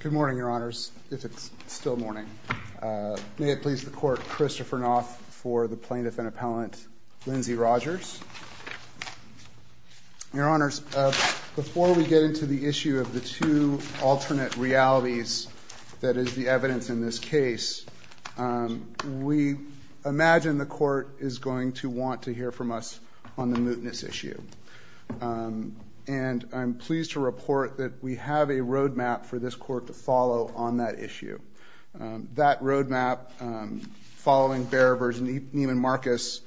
Good morning, Your Honors, if it's still morning. May it please the Court, Christopher Noth for the Plaintiff and Appellant, Lindsay Rogers. Your Honors, before we get into the issue of the two alternate realities that is the evidence in this case, we imagine the Court is going to want to hear from us on the mootness issue. And I'm pleased to report that we have a road map for this Court to follow on that issue. That road map, following Bear versus Neiman Marcus,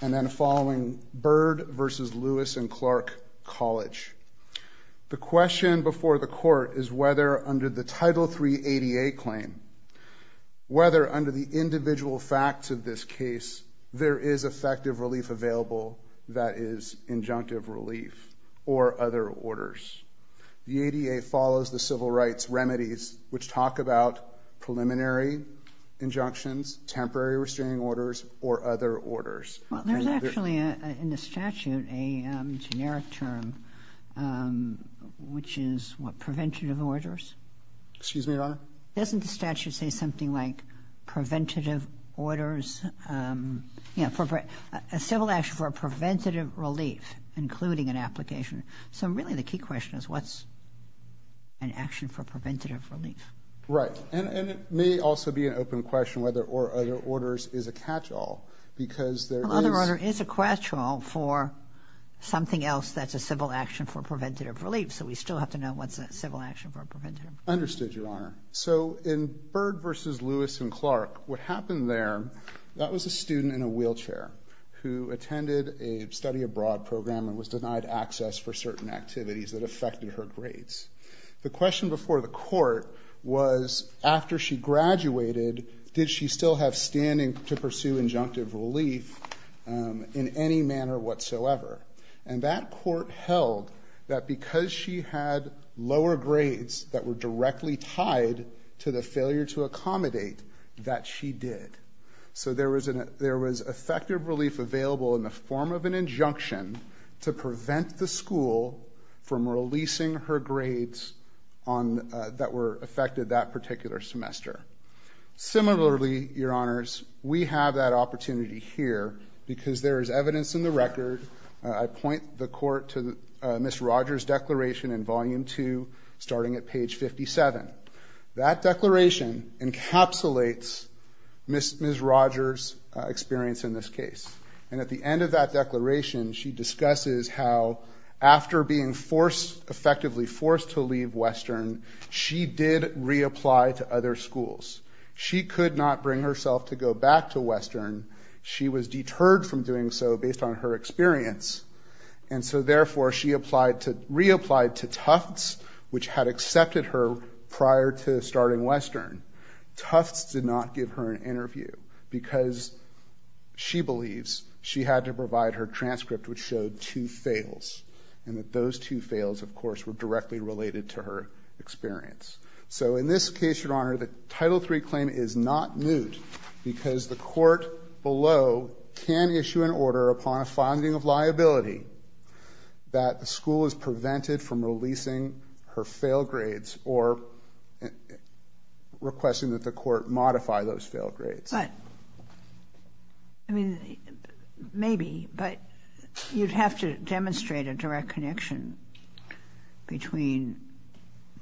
and then following Bird versus Lewis and Clark College. The question before the Court is whether under the Title 388 claim, whether under the individual facts of this case, there is effective relief available that is injunctive relief or other orders. The ADA follows the civil rights remedies which talk about preliminary injunctions, temporary restraining orders, or other orders. Well, there's actually in the statute a generic term, which is what, preventative orders? Excuse me, Your Honor? Doesn't the statute say something like preventative orders? You know, a civil action for a preventative relief, including an application. So really the key question is what's an action for preventative relief? Right. And it may also be an open question whether or other orders is a catch-all because there is... Well, other order is a catch-all for something else that's a civil action for preventative relief. So we still have to know what's a civil action for a preventative relief. Understood, Your Honor. So in Bird versus Lewis and Clark, what happened there, that was a student in a wheelchair who attended a study abroad program and was denied access for certain activities that affected her grades. The question before the Court was after she graduated, did she still have standing to pursue injunctive relief in any manner whatsoever? And that Court held that because she had lower grades that were directly tied to the failure to accommodate, that she did. So there was effective relief available in the form of an injunction to prevent the school from releasing her grades that were affected that particular semester. Similarly, Your Honors, we have that opportunity here because there is evidence in the record. I point the Court to Ms. Rogers' declaration in Volume 2, starting at page 57. That declaration encapsulates Ms. Rogers' experience in this case. And at the end of that declaration, she discusses how after being effectively forced to leave Western, she did reapply to other schools. She could not bring herself to go back to Western. She was deterred from doing so based on her experience. And so therefore, she reapplied to Tufts, which had accepted her prior to starting Western. Tufts did not give her an interview because she believes she had to provide her transcript which showed two fails. And that those two fails, of course, were directly related to her experience. So in this case, Your Honor, the Title III claim is not moot because the Court below can issue an order upon a finding of liability that the school is prevented from releasing her fail grades or requesting that the Court modify those fail grades. But, I mean, maybe, but you'd have to demonstrate a direct connection between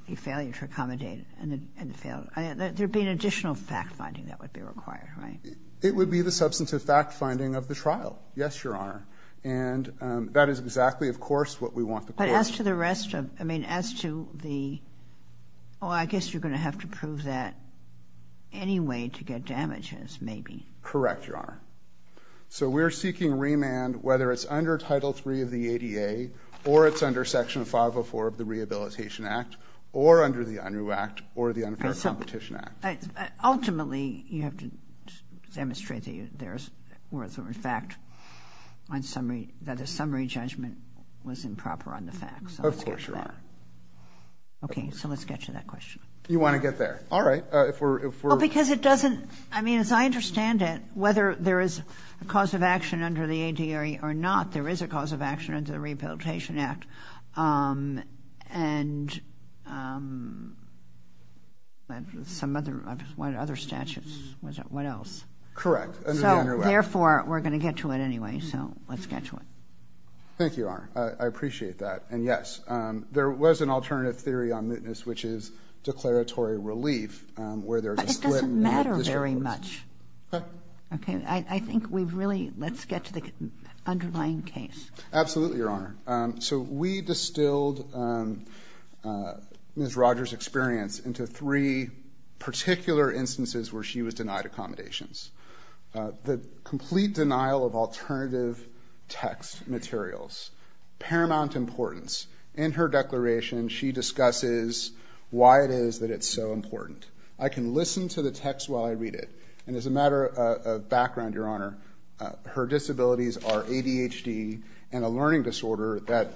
the failure to accommodate and the fail. There'd be an additional fact-finding that would be required, right? It would be the substantive fact-finding of the trial, yes, Your Honor. And that is exactly, of course, what we want the Court to do. But as to the rest of, I mean, as to the, oh, I guess you're going to have to prove that anyway to get damages, maybe. Correct, Your Honor. So we're seeking remand whether it's under Title III of the ADA or it's under Section 504 of the Rehabilitation Act or under the Unruh Act or the Unfair Competition Act. Ultimately, you have to demonstrate that there is, or in fact, that a summary judgment was improper on the facts. Of course, Your Honor. Okay, so let's get to that question. You want to get there. All right. Because it doesn't, I mean, as I understand it, whether there is a cause of action under the ADA or not, there is a cause of action under the Rehabilitation Act and some other statutes. What else? Correct, under the Unruh Act. So therefore, we're going to get to it anyway. So let's get to it. Thank you, Your Honor. I appreciate that. And yes, there was an alternative theory on mootness, which is declaratory relief where there is a split in the district courts. But it doesn't matter very much. Okay. I think we've really, let's get to the underlying case. Absolutely, Your Honor. So we distilled Ms. Rogers' experience into three particular instances where she was denied accommodations. The complete denial of alternative text materials, paramount importance. In her declaration, she discusses why it is that it's so important. I can listen to the text while I read it. And as a matter of background, Your Honor, her disabilities are ADHD and a learning disorder that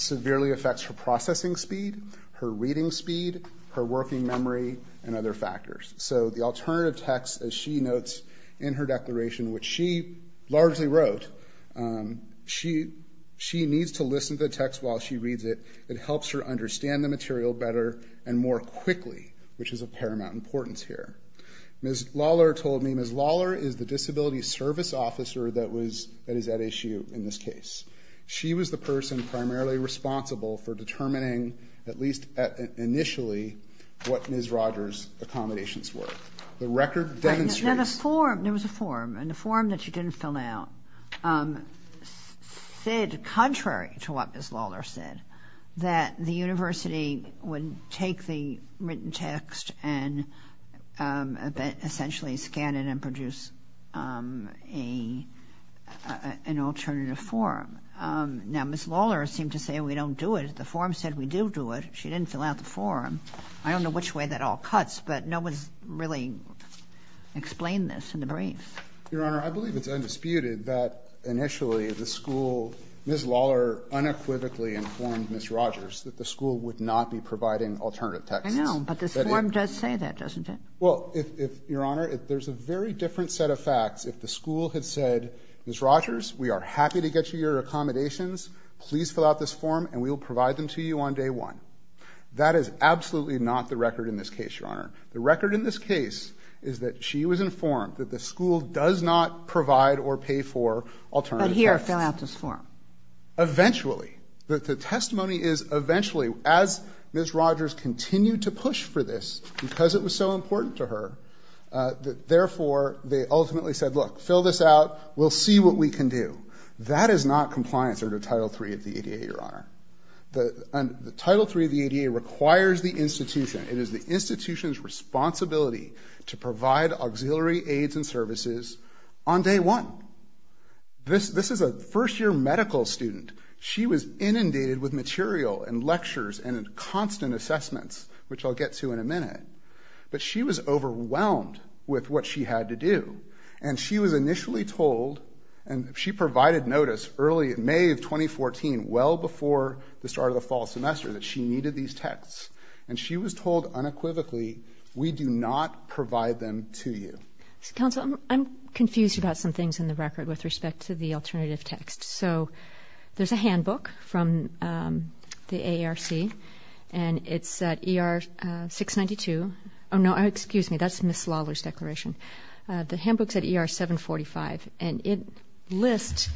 severely affects her processing speed, her reading speed, her working memory, and other factors. So the alternative text, as she notes in her declaration, which she largely wrote, she needs to listen to the text while she reads it. It helps her understand the material better and more quickly, which is of paramount importance here. Ms. Lawler told me Ms. Lawler is the disability service officer that is at issue in this case. She was the person primarily responsible for determining, at least initially, what Ms. Rogers' accommodations were. The record demonstrates... There was a form, and the form that she didn't fill out said, contrary to what Ms. Lawler said, that the university would take the written text and essentially scan it and produce an alternative form. Now, Ms. Lawler seemed to say we don't do it. The form said we do do it. She didn't fill out the form. I don't know which way that all cuts, but no one's really explained this in the brief. Your Honor, I believe it's undisputed that initially the school, Ms. Lawler unequivocally informed Ms. Rogers that the school would not be providing alternative texts. I know, but this form does say that, doesn't it? Well, if, Your Honor, there's a very different set of facts. If the school had said, Ms. Rogers, we are happy to get you your accommodations. Please fill out this form, and we will provide them to you on day one. That is absolutely not the record in this case, Your Honor. The record in this case is that she was informed that the school does not provide or pay for alternative texts. But here, fill out this form. Eventually. The testimony is eventually. As Ms. Rogers continued to push for this, because it was so important to her, therefore, they ultimately said, look, fill this out. We'll see what we can do. That is not compliance under Title III of the ADA, Your Honor. The Title III of the ADA requires the institution. It is the institution's responsibility to provide auxiliary aids and services on day one. This is a first-year medical student. She was inundated with material and lectures and constant assessments, which I'll get to in a minute. But she was overwhelmed with what she had to do. And she was initially told, and she provided notice early in May of 2014, well before the start of the fall semester, that she needed these texts. And she was told unequivocally, we do not provide them to you. Counsel, I'm confused about some things in the record with respect to the alternative text. So there's a handbook from the AARC, and it's at ER 692. Oh, no, excuse me, that's Ms. Lawler's declaration. The handbook's at ER 745, and it lists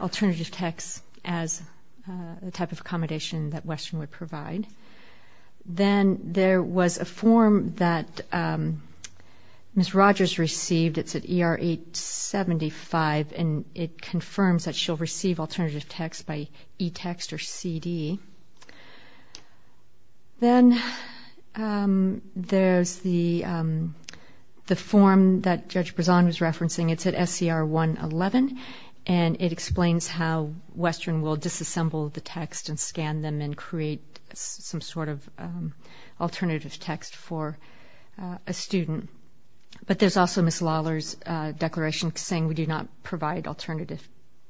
alternative texts as a type of accommodation that Western would provide. Then there was a form that Ms. Rogers received. It's at ER 875, and it confirms that she'll receive alternative texts by eText or CD. Then there's the form that Judge Brezon was referencing. It's at SCR 111, and it explains how Western will disassemble the text and scan them and create some sort of alternative text for a student. But there's also Ms. Lawler's declaration saying we do not provide alternative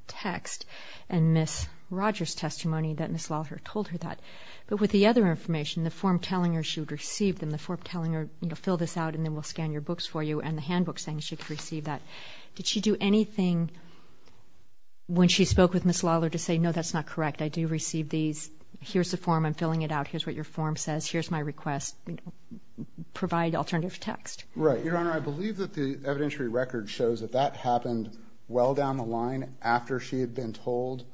text, and Ms. Rogers' testimony that Ms. Lawler told her that. But with the other information, the form telling her she would receive them, the form telling her, you know, fill this out and then we'll scan your books for you, and the handbook saying she could receive that, did she do anything when she spoke with Ms. Lawler to say, no, that's not correct, I do receive these, here's the form, I'm filling it out, here's what your form says, here's my request, provide alternative text? Right. Your Honor, I believe that the evidentiary record shows that that happened well down the line after she had been told.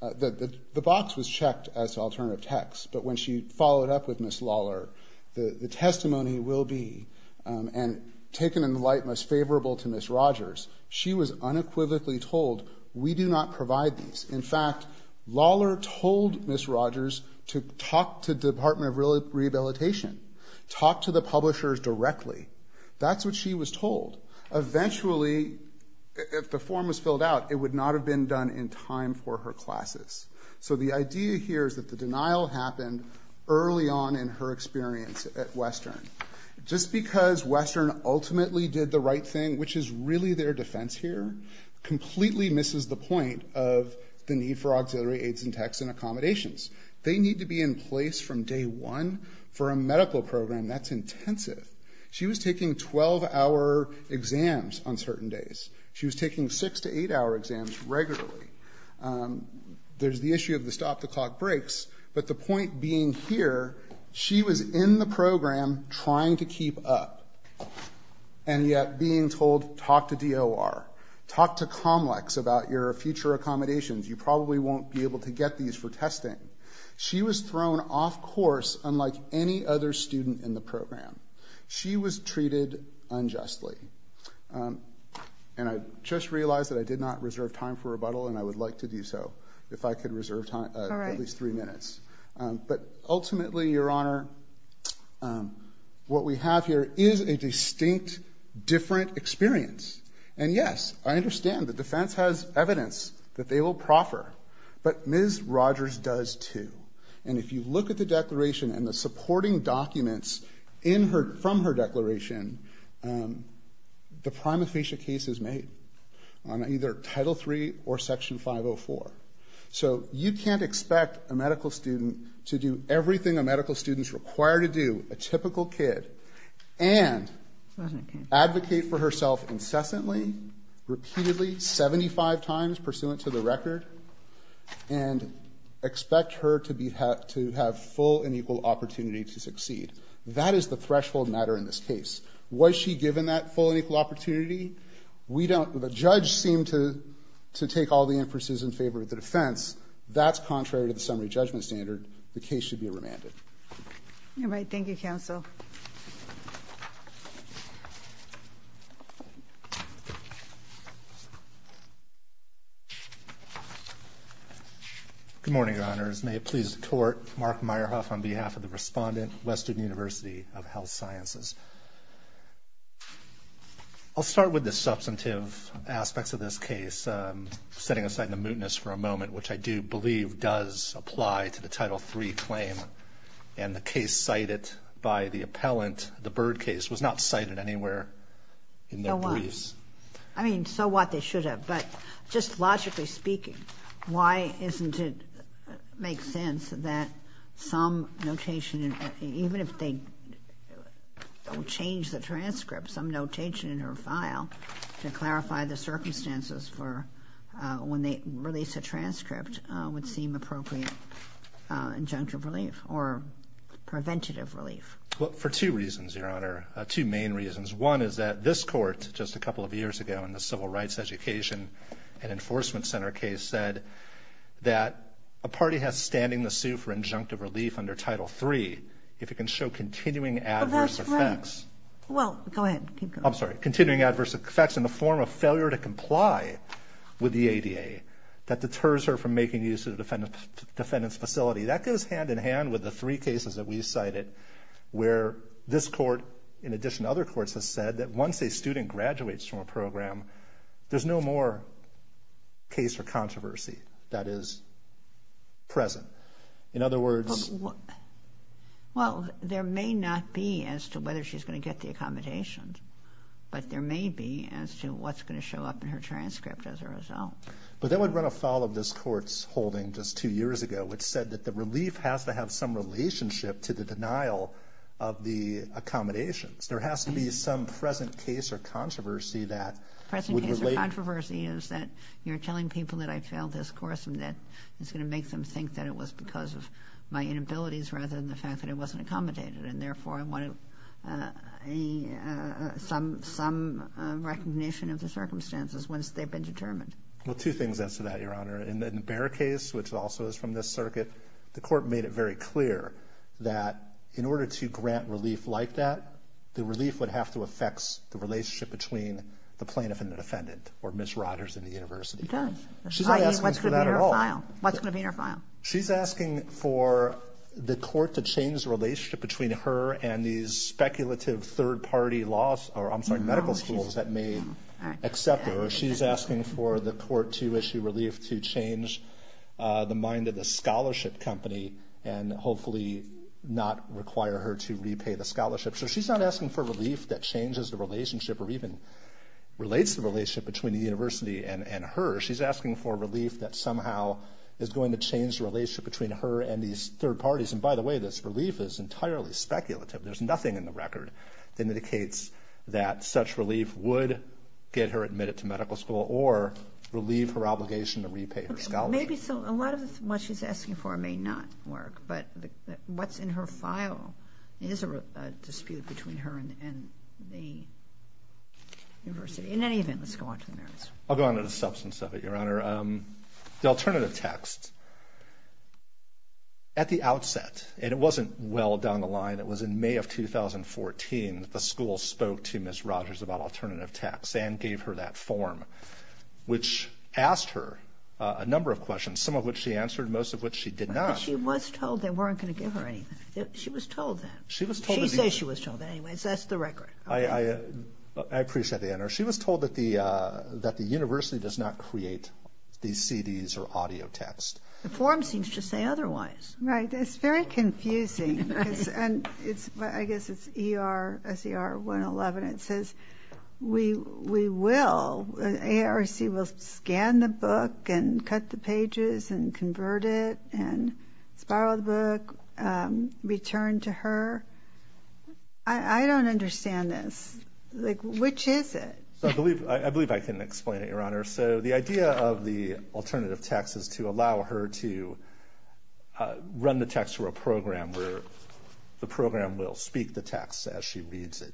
The box was checked as alternative text, but when she followed up with Ms. Lawler, the testimony will be, and taken in the light most favorable to Ms. Rogers, she was unequivocally told, we do not provide these. In fact, Lawler told Ms. Rogers to talk to the Department of Rehabilitation, talk to the publishers directly. That's what she was told. Eventually, if the form was filled out, it would not have been done in time for her classes. So the idea here is that the denial happened early on in her experience at Western. Just because Western ultimately did the right thing, which is really their defense here, completely misses the point of the need for auxiliary aids and texts and accommodations. They need to be in place from day one for a medical program, that's intensive. She was taking 12-hour exams on certain days. She was taking 6- to 8-hour exams regularly. There's the issue of the stop-the-clock breaks, but the point being here, she was in the program trying to keep up, and yet being told, talk to DOR. Talk to Comlex about your future accommodations. You probably won't be able to get these for testing. She was thrown off course, unlike any other student in the program. She was treated unjustly. And I just realized that I did not reserve time for rebuttal, and I would like to do so if I could reserve at least three minutes. But ultimately, Your Honor, what we have here is a distinct, different experience. And yes, I understand the defense has evidence that they will proffer, but Ms. Rogers does too. And if you look at the declaration and the supporting documents from her declaration, the prima facie case is made on either Title III or Section 504. So you can't expect a medical student to do everything a medical student is required to do, a typical kid, and advocate for herself incessantly, repeatedly, 75 times, and expect her to have full and equal opportunity to succeed. That is the threshold matter in this case. Was she given that full and equal opportunity? We don't. The judge seemed to take all the emphases in favor of the defense. That's contrary to the summary judgment standard. The case should be remanded. All right. Thank you, counsel. Good morning, Your Honors. May it please the Court, Mark Meyerhoff on behalf of the respondent, Western University of Health Sciences. I'll start with the substantive aspects of this case, setting aside the mootness for a moment, which I do believe does apply to the Title III claim. And the case cited by the appellant, the Bird case, was not cited anywhere in their briefs. So what? I mean, so what? They should have. But just logically speaking, why isn't it makes sense that some notation, even if they don't change the transcript, some notation in her file to clarify the circumstances for when they release a transcript would seem appropriate injunctive relief or preventative relief? Well, for two reasons, Your Honor, two main reasons. One is that this Court, just a couple of years ago in the Civil Rights Education and Enforcement Center case, said that a party has standing to sue for injunctive relief under Title III if it can show continuing adverse effects. Well, that's right. Well, go ahead. Keep going. I'm sorry. Continuing adverse effects in the form of failure to comply with the ADA that deters her from making use of the defendant's facility. That goes hand-in-hand with the three cases that we've cited where this Court, in addition to other courts, has said that once a student graduates from a program, there's no more case or controversy that is present. In other words— Well, there may not be as to whether she's going to get the accommodations, but there may be as to what's going to show up in her transcript as a result. But that would run afoul of this Court's holding just two years ago, which said that the relief has to have some relationship to the denial of the accommodations. There has to be some present case or controversy that would relate— The present case or controversy is that you're telling people that I failed this course and that it's going to make them think that it was because of my inabilities rather than the fact that it wasn't accommodated, and therefore I wanted some recognition of the circumstances once they've been determined. Well, two things as to that, Your Honor. In the Bear case, which also is from this circuit, the Court made it very clear that in order to grant relief like that, the relief would have to affect the relationship between the plaintiff and the defendant or Ms. Rogers and the university. It does. She's not asking for that at all. What's going to be in her file? She's asking for the Court to change the relationship between her and these speculative third-party medical schools that may accept her. She's asking for the Court to issue relief to change the mind of the scholarship company and hopefully not require her to repay the scholarship. So she's not asking for relief that changes the relationship or even relates the relationship between the university and her. She's asking for relief that somehow is going to change the relationship between her and these third parties. And by the way, this relief is entirely speculative. There's nothing in the record that indicates that such relief would get her admitted to medical school or relieve her obligation to repay her scholarship. Maybe so. A lot of what she's asking for may not work, but what's in her file is a dispute between her and the university. In any event, let's go on to the merits. I'll go on to the substance of it, Your Honor. The alternative text. At the outset, and it wasn't well down the line, it was in May of 2014, the school spoke to Ms. Rogers about alternative text and gave her that form, which asked her a number of questions, some of which she answered, most of which she did not. But she was told they weren't going to give her anything. She was told that. She was told that. She says she was told that anyway, so that's the record. I appreciate that, Your Honor. She was told that the university does not create these CDs or audio text. The form seems to say otherwise. Right. It's very confusing. I guess it's E-R-S-E-R-1-11. It says we will. A-R-E-C will scan the book and cut the pages and convert it and spiral the book, return to her. I don't understand this. Like, which is it? I believe I can explain it, Your Honor. So the idea of the alternative text is to allow her to run the text through a program where the program will speak the text as she reads it.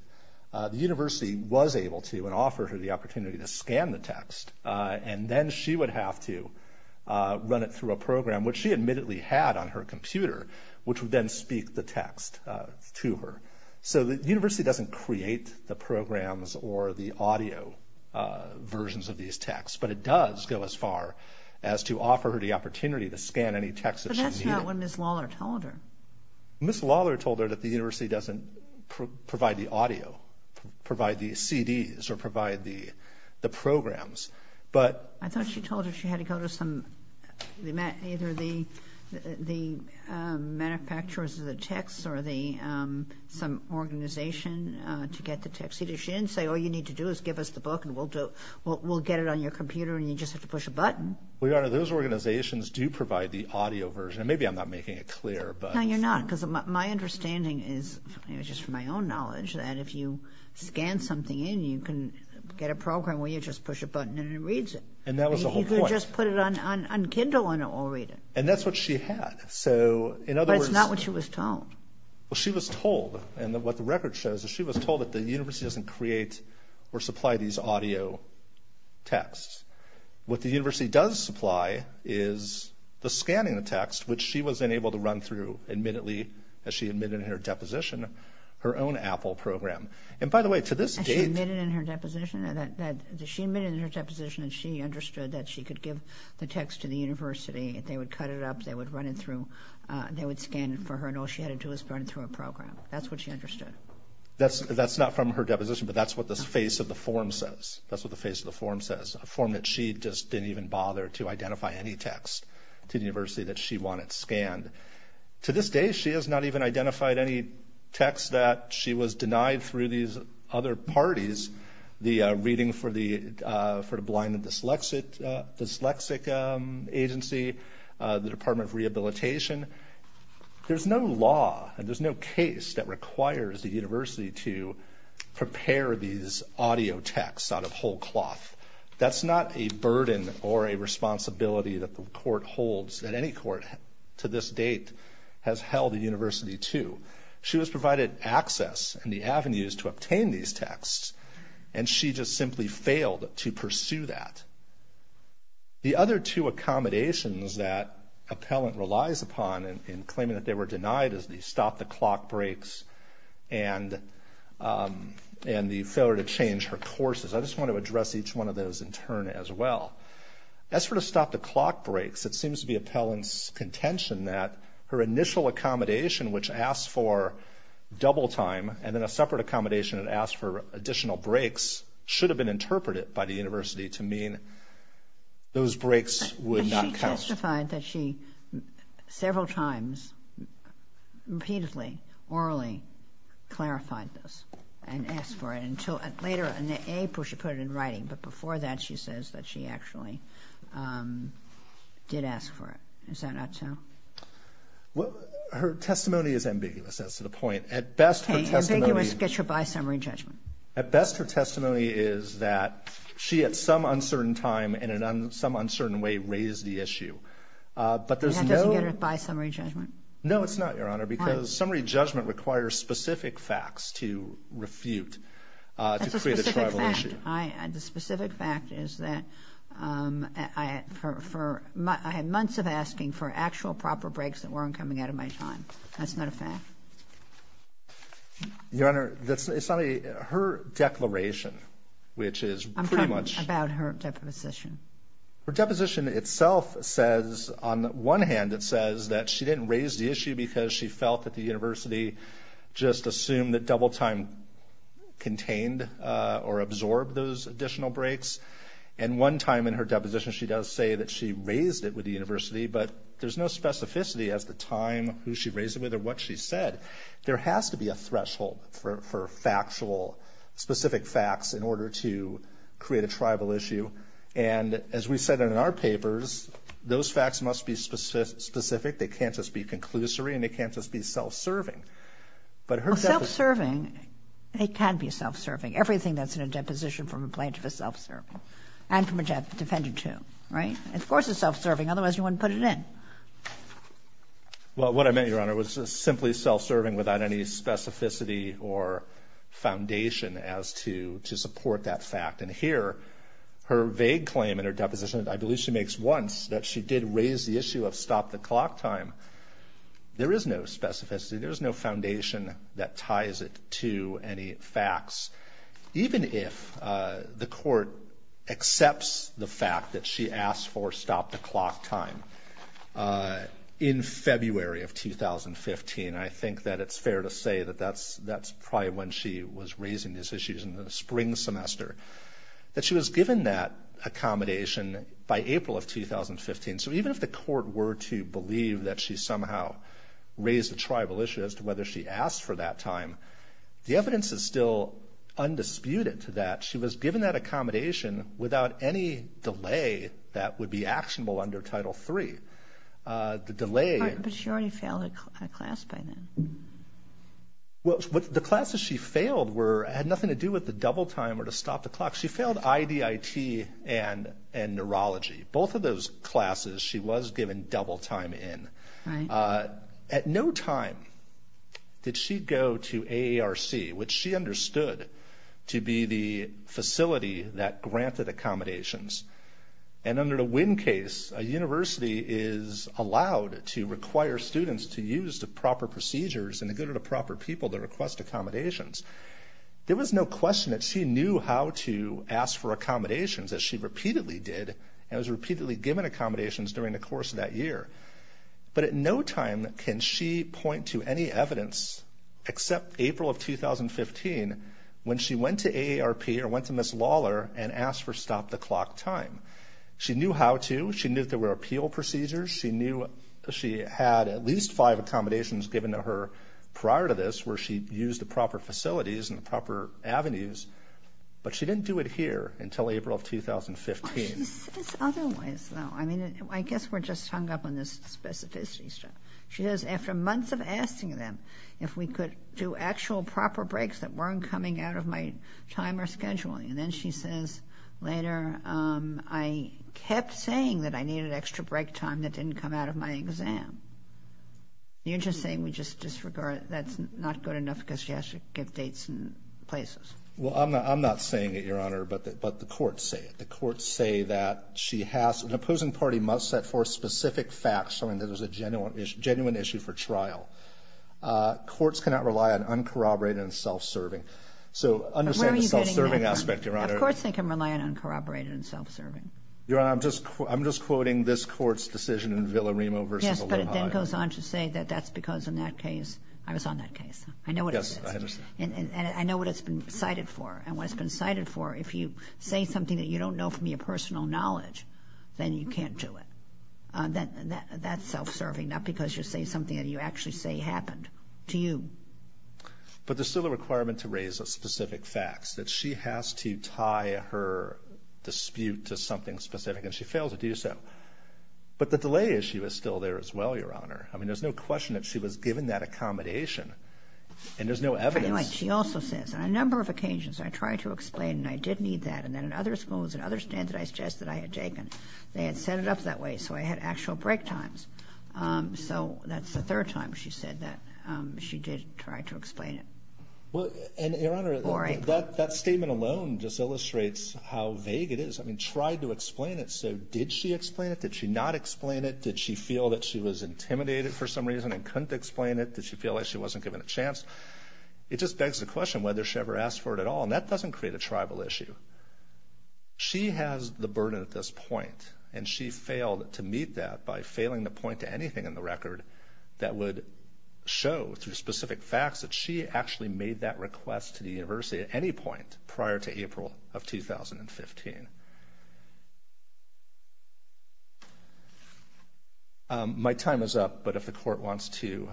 The university was able to and offered her the opportunity to scan the text, and then she would have to run it through a program, which she admittedly had on her computer, which would then speak the text to her. So the university doesn't create the programs or the audio versions of these texts, but it does go as far as to offer her the opportunity to scan any text that she needed. But that's not what Ms. Lawler told her. Ms. Lawler told her that the university doesn't provide the audio, provide the CDs, or provide the programs. I thought she told her she had to go to either the manufacturers of the texts or some organization to get the text. She didn't say all you need to do is give us the book and we'll get it on your computer and you just have to push a button. Well, Your Honor, those organizations do provide the audio version. Maybe I'm not making it clear. No, you're not, because my understanding is, just from my own knowledge, that if you scan something in, you can get a program where you just push a button and it reads it. And that was the whole point. You could just put it on Kindle and it will read it. And that's what she had. But it's not what she was told. Well, she was told, and what the record shows is she was told that the university doesn't create or supply these audio texts. What the university does supply is the scanning of the text, which she was then able to run through, admittedly, as she admitted in her deposition, her own Apple program. And, by the way, to this date... As she admitted in her deposition? She admitted in her deposition that she understood that she could give the text to the university. They would cut it up, they would run it through, they would scan it for her, and all she had to do was run it through a program. That's what she understood. That's not from her deposition, but that's what the face of the form says. That's what the face of the form says, a form that she just didn't even bother to identify any text to the university that she wanted scanned. To this day, she has not even identified any text that she was denied through these other parties, the reading for the blind and dyslexic agency, the Department of Rehabilitation. There's no law and there's no case that requires the university to prepare these audio texts out of whole cloth. That's not a burden or a responsibility that the court holds, that any court to this date has held a university to. She was provided access and the avenues to obtain these texts, and she just simply failed to pursue that. The other two accommodations that appellant relies upon in claiming that they were denied is the stop-the-clock breaks and the failure to change her courses. I just want to address each one of those in turn as well. That's for the stop-the-clock breaks. It seems to be appellant's contention that her initial accommodation, which asked for double time and then a separate accommodation that asked for additional breaks, should have been interpreted by the university to mean those breaks would not count. She testified that she several times repeatedly, orally, clarified this and asked for it until later in April she put it in writing. But before that, she says that she actually did ask for it. Is that not so? Her testimony is ambiguous. That's the point. At best, her testimony is that she at some uncertain time and in some uncertain way raised the issue. That doesn't get her by summary judgment? No, it's not, Your Honor. Why? Summary judgment requires specific facts to refute to create a tribal issue. That's a specific fact. The specific fact is that I had months of asking for actual proper breaks that weren't coming out of my time. That's not a fact. Your Honor, it's not a her declaration, which is pretty much. I'm talking about her deposition. Her deposition itself says, on the one hand, that says that she didn't raise the issue because she felt that the university just assumed that double time contained or absorbed those additional breaks. And one time in her deposition she does say that she raised it with the university, but there's no specificity as to the time, who she raised it with, or what she said. There has to be a threshold for factual, specific facts in order to create a tribal issue. And as we said in our papers, those facts must be specific. They can't just be conclusory and they can't just be self-serving. Well, self-serving, it can be self-serving. Everything that's in a deposition from a plaintiff is self-serving, and from a defendant too, right? Of course it's self-serving, otherwise you wouldn't put it in. Well, what I meant, Your Honor, was simply self-serving without any specificity or foundation as to support that fact. And here, her vague claim in her deposition, I believe she makes once, that she did raise the issue of stop the clock time, there is no specificity, there is no foundation that ties it to any facts. Even if the court accepts the fact that she asked for stop the clock time in February of 2015, I think that it's fair to say that that's probably when she was raising these issues, in the spring semester, that she was given that accommodation by April of 2015. So even if the court were to believe that she somehow raised a tribal issue as to whether she asked for that time, the evidence is still undisputed to that. She was given that accommodation without any delay that would be actionable under Title III. But she already failed a class by then. Well, the classes she failed had nothing to do with the double time or to stop the clock. She failed IDIT and neurology. Both of those classes she was given double time in. At no time did she go to AARC, which she understood to be the facility that granted accommodations. And under the Winn case, a university is allowed to require students to use the proper procedures and to go to the proper people to request accommodations. There was no question that she knew how to ask for accommodations, as she repeatedly did, and was repeatedly given accommodations during the course of that year. But at no time can she point to any evidence, except April of 2015, when she went to AARP or went to Ms. Lawler and asked for stop-the-clock time. She knew how to. She knew there were appeal procedures. She knew she had at least five accommodations given to her prior to this where she used the proper facilities and proper avenues. But she didn't do it here until April of 2015. She says otherwise, though. I mean, I guess we're just hung up on this specificity stuff. She says, after months of asking them if we could do actual proper breaks that weren't coming out of my time or scheduling. And then she says later, I kept saying that I needed extra break time that didn't come out of my exam. You're just saying we just disregard it. That's not good enough because she has to give dates and places. Well, I'm not saying it, Your Honor, but the courts say it. An opposing party must set forth specific facts showing that it was a genuine issue for trial. Courts cannot rely on uncorroborated and self-serving. So understand the self-serving aspect, Your Honor. But where are you getting that from? Of course they can rely on uncorroborated and self-serving. Your Honor, I'm just quoting this Court's decision in Villaremo v. Aloha. Yes, but it then goes on to say that that's because in that case, I was on that case. I know what it is. Yes, I understand. And I know what it's been cited for. If you say something that you don't know from your personal knowledge, then you can't do it. That's self-serving, not because you say something that you actually say happened to you. But there's still a requirement to raise specific facts, that she has to tie her dispute to something specific, and she failed to do so. But the delay issue is still there as well, Your Honor. I mean, there's no question that she was given that accommodation, and there's no evidence. She also says, on a number of occasions, I tried to explain, and I did need that. And then in other schools, in other standardized tests that I had taken, they had set it up that way, so I had actual break times. So that's the third time she said that she did try to explain it. And, Your Honor, that statement alone just illustrates how vague it is. I mean, tried to explain it, so did she explain it? Did she not explain it? Did she feel that she was intimidated for some reason and couldn't explain it? Did she feel like she wasn't given a chance? It just begs the question whether she ever asked for it at all, and that doesn't create a tribal issue. She has the burden at this point, and she failed to meet that by failing to point to anything in the record that would show through specific facts that she actually made that request to the university at any point prior to April of 2015. My time is up, but if the court wants to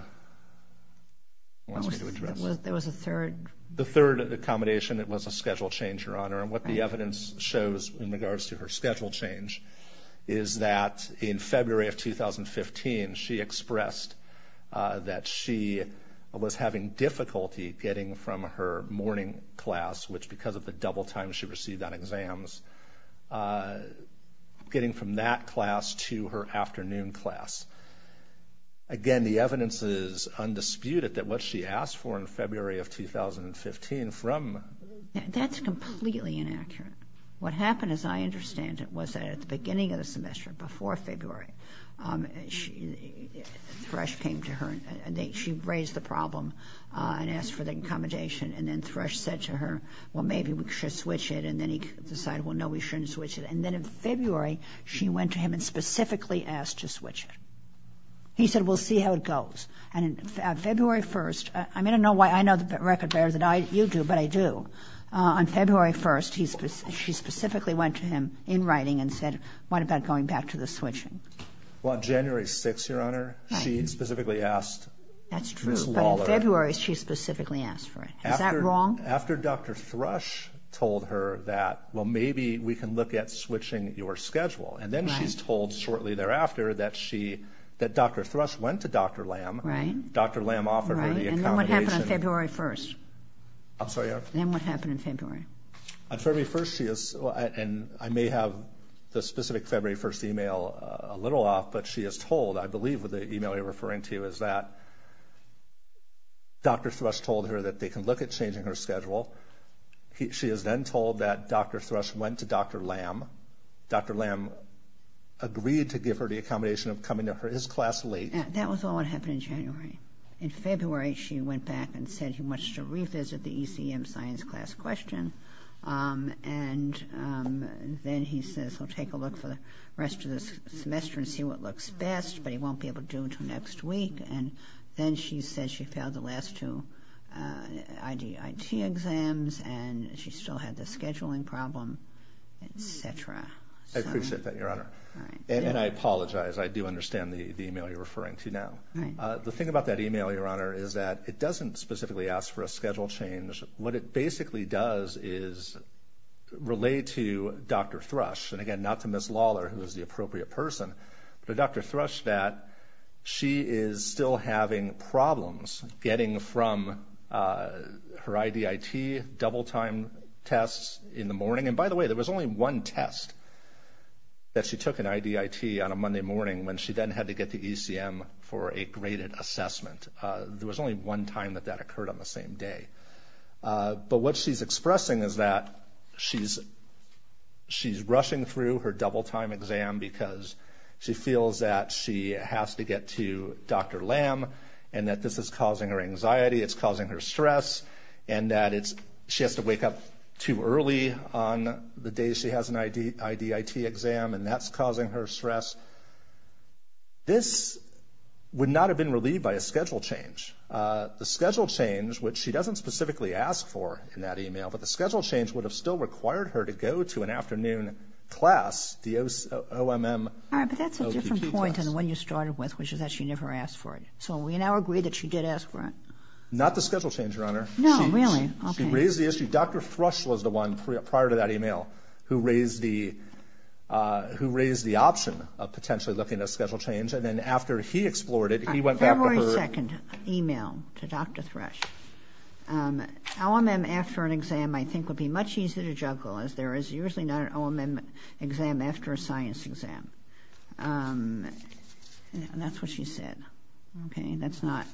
address it. There was a third? The third accommodation, it was a schedule change, Your Honor, and what the evidence shows in regards to her schedule change is that in February of 2015, she expressed that she was having difficulty getting from her morning class, which because of the double time she received on exams, getting from that class to her afternoon class. Again, the evidence is undisputed that what she asked for in February of 2015 from... That's completely inaccurate. What happened, as I understand it, was that at the beginning of the semester, before February, Thresh came to her, and she raised the problem and asked for the accommodation, and then Thresh said to her, well, maybe we should switch it. And then he decided, well, no, we shouldn't switch it. And then in February, she went to him and specifically asked to switch it. He said, we'll see how it goes. And on February 1st, I'm going to know why I know the record better than you do, but I do. On February 1st, she specifically went to him in writing and said, what about going back to the switching? Well, on January 6th, Your Honor, she specifically asked for this law letter. On February, she specifically asked for it. Is that wrong? After Dr. Thresh told her that, well, maybe we can look at switching your schedule, and then she's told shortly thereafter that Dr. Thresh went to Dr. Lam. Right. Dr. Lam offered her the accommodation. And then what happened on February 1st? I'm sorry, Your Honor? Then what happened in February? On February 1st, she is, and I may have the specific February 1st email a little off, but she is told, I believe what the email you're referring to is that, Dr. Thresh told her that they can look at changing her schedule. She is then told that Dr. Thresh went to Dr. Lam. Dr. Lam agreed to give her the accommodation of coming to his class late. That was all that happened in January. In February, she went back and said he wants to revisit the ECM science class question, and then he says he'll take a look for the rest of the semester and see what looks best, but he won't be able to do until next week. And then she says she failed the last two IDIT exams, and she still had the scheduling problem, et cetera. I appreciate that, Your Honor. And I apologize. I do understand the email you're referring to now. The thing about that email, Your Honor, is that it doesn't specifically ask for a schedule change. What it basically does is relate to Dr. Thresh, and, again, not to Ms. Lawler, who is the appropriate person, but Dr. Thresh that she is still having problems getting from her IDIT double-time tests in the morning. And, by the way, there was only one test that she took in IDIT on a Monday morning when she then had to get to ECM for a graded assessment. There was only one time that that occurred on the same day. But what she's expressing is that she's rushing through her double-time exam because she feels that she has to get to Dr. Lam and that this is causing her anxiety, it's causing her stress, and that she has to wake up too early on the day she has an IDIT exam, and that's causing her stress. This would not have been relieved by a schedule change. The schedule change, which she doesn't specifically ask for in that email, but the schedule change would have still required her to go to an afternoon class, the OMM OTT class. All right, but that's a different point than the one you started with, which is that she never asked for it. So we now agree that she did ask for it. Not the schedule change, Your Honor. No, really? Okay. Dr. Thrush was the one prior to that email who raised the option of potentially looking at a schedule change, and then after he explored it, he went back to her. A February 2nd email to Dr. Thrush. OMM after an exam I think would be much easier to juggle, as there is usually not an OMM exam after a science exam. That's what she said. Okay, that's not.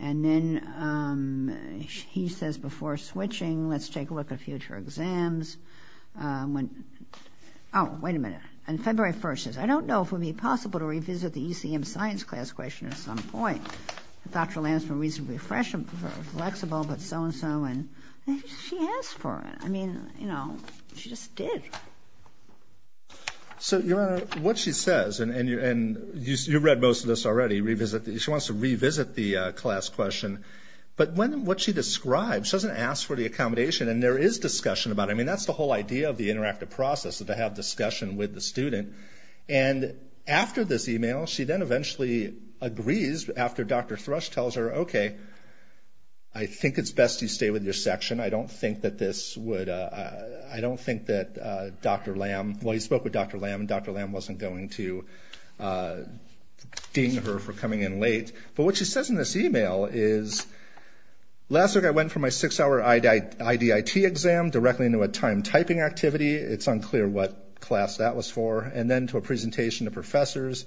And then he says, before switching, let's take a look at future exams. Oh, wait a minute. On February 1st, he says, I don't know if it would be possible to revisit the ECM science class question at some point. Dr. Lantzmann, reasonably flexible, but so-and-so, and she asked for it. I mean, you know, she just did. So, Your Honor, what she says, and you read most of this already, she wants to revisit the class question. But what she describes, she doesn't ask for the accommodation, and there is discussion about it. I mean, that's the whole idea of the interactive process, to have discussion with the student. And after this email, she then eventually agrees, after Dr. Thrush tells her, okay, I think it's best you stay with your section. I don't think that this would, I don't think that Dr. Lamb, well, he spoke with Dr. Lamb, and Dr. Lamb wasn't going to ding her for coming in late. But what she says in this email is, last week I went for my six-hour IDIT exam, directly into a time-typing activity. It's unclear what class that was for. And then to a presentation to professors.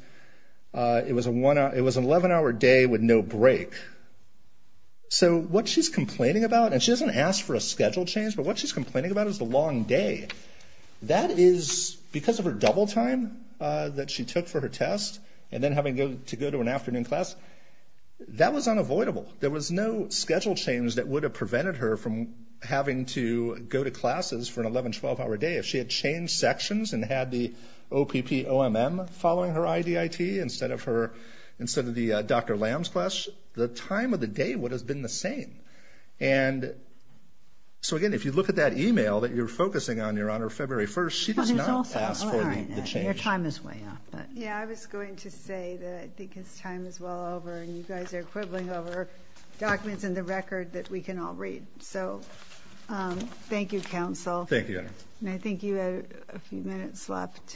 It was an 11-hour day with no break. So what she's complaining about, and she doesn't ask for a schedule change, but what she's complaining about is the long day. That is because of her double time that she took for her test, and then having to go to an afternoon class. That was unavoidable. There was no schedule change that would have prevented her from having to go to classes for an 11-, 12-hour day. If she had changed sections and had the OPPOMM following her IDIT, instead of the Dr. Lamb's class, the time of the day would have been the same. And so, again, if you look at that email that you're focusing on, Your Honor, February 1st, she does not ask for the change. Your time is way up. Yeah, I was going to say that I think his time is well over, and you guys are quibbling over documents in the record that we can all read. So thank you, counsel. Thank you, Your Honor. And I think you have a few minutes left.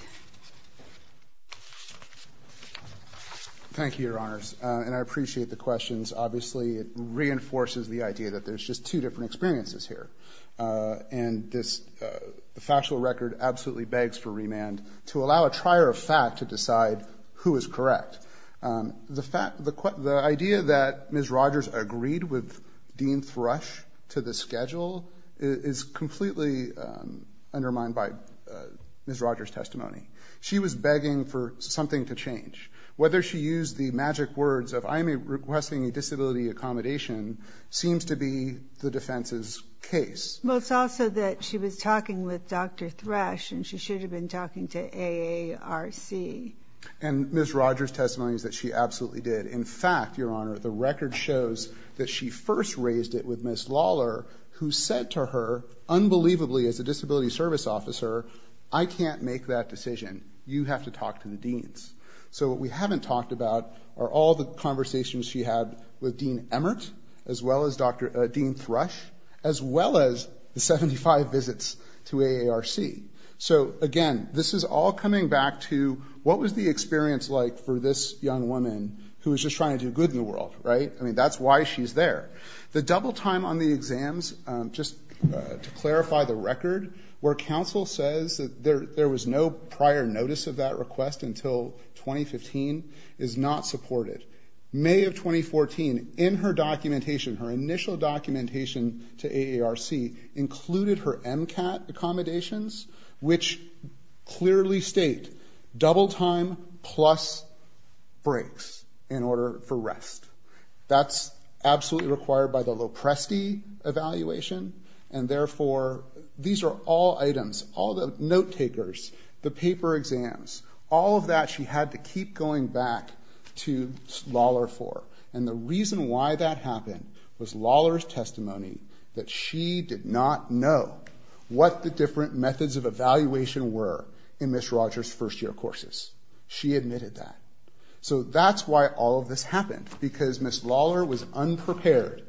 Thank you, Your Honors. And I appreciate the questions. Obviously, it reinforces the idea that there's just two different experiences here, and this factual record absolutely begs for remand to allow a trier of fact to decide who is correct. The idea that Ms. Rogers agreed with Dean Thrush to the schedule is completely undermined by Ms. Rogers' testimony. She was begging for something to change. Whether she used the magic words of, I am requesting a disability accommodation, seems to be the defense's case. Well, it's also that she was talking with Dr. Thrush, and she should have been talking to AARC. And Ms. Rogers' testimony is that she absolutely did. In fact, Your Honor, the record shows that she first raised it with Ms. Lawler, who said to her, unbelievably, as a disability service officer, I can't make that decision. You have to talk to the deans. So what we haven't talked about are all the conversations she had with Dean Emmert, as well as Dean Thrush, as well as the 75 visits to AARC. So, again, this is all coming back to what was the experience like for this young woman who was just trying to do good in the world, right? I mean, that's why she's there. The double time on the exams, just to clarify the record, where counsel says that there was no prior notice of that request until 2015, is not supported. May of 2014, in her documentation, her initial documentation to AARC, included her MCAT accommodations, which clearly state double time plus breaks in order for rest. That's absolutely required by the Lopresti evaluation, and therefore these are all items, all the note takers, the paper exams, all of that she had to keep going back to Lawler for. And the reason why that happened was Lawler's testimony that she did not know what the different methods of evaluation were in Ms. Rogers' first year courses. She admitted that. So that's why all of this happened, because Ms. Lawler was unprepared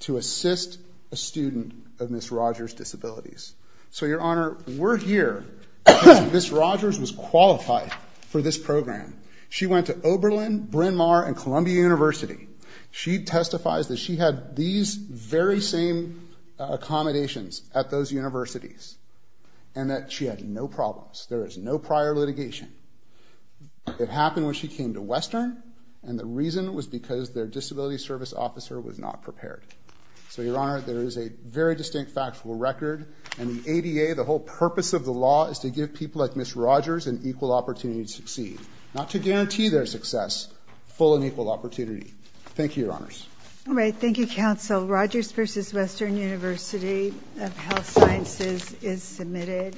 to assist a student of Ms. Rogers' disabilities. So, Your Honor, we're here. Ms. Rogers was qualified for this program. She went to Oberlin, Bryn Mawr, and Columbia University. She testifies that she had these very same accommodations at those universities and that she had no problems. There was no prior litigation. It happened when she came to Western, and the reason was because their disability service officer was not prepared. So, Your Honor, there is a very distinct factual record, and the ADA, the whole purpose of the law, is to give people like Ms. Rogers an equal opportunity to succeed, not to guarantee their success, full and equal opportunity. Thank you, Your Honors. All right, thank you, Counsel. Rogers v. Western University of Health Sciences is submitted.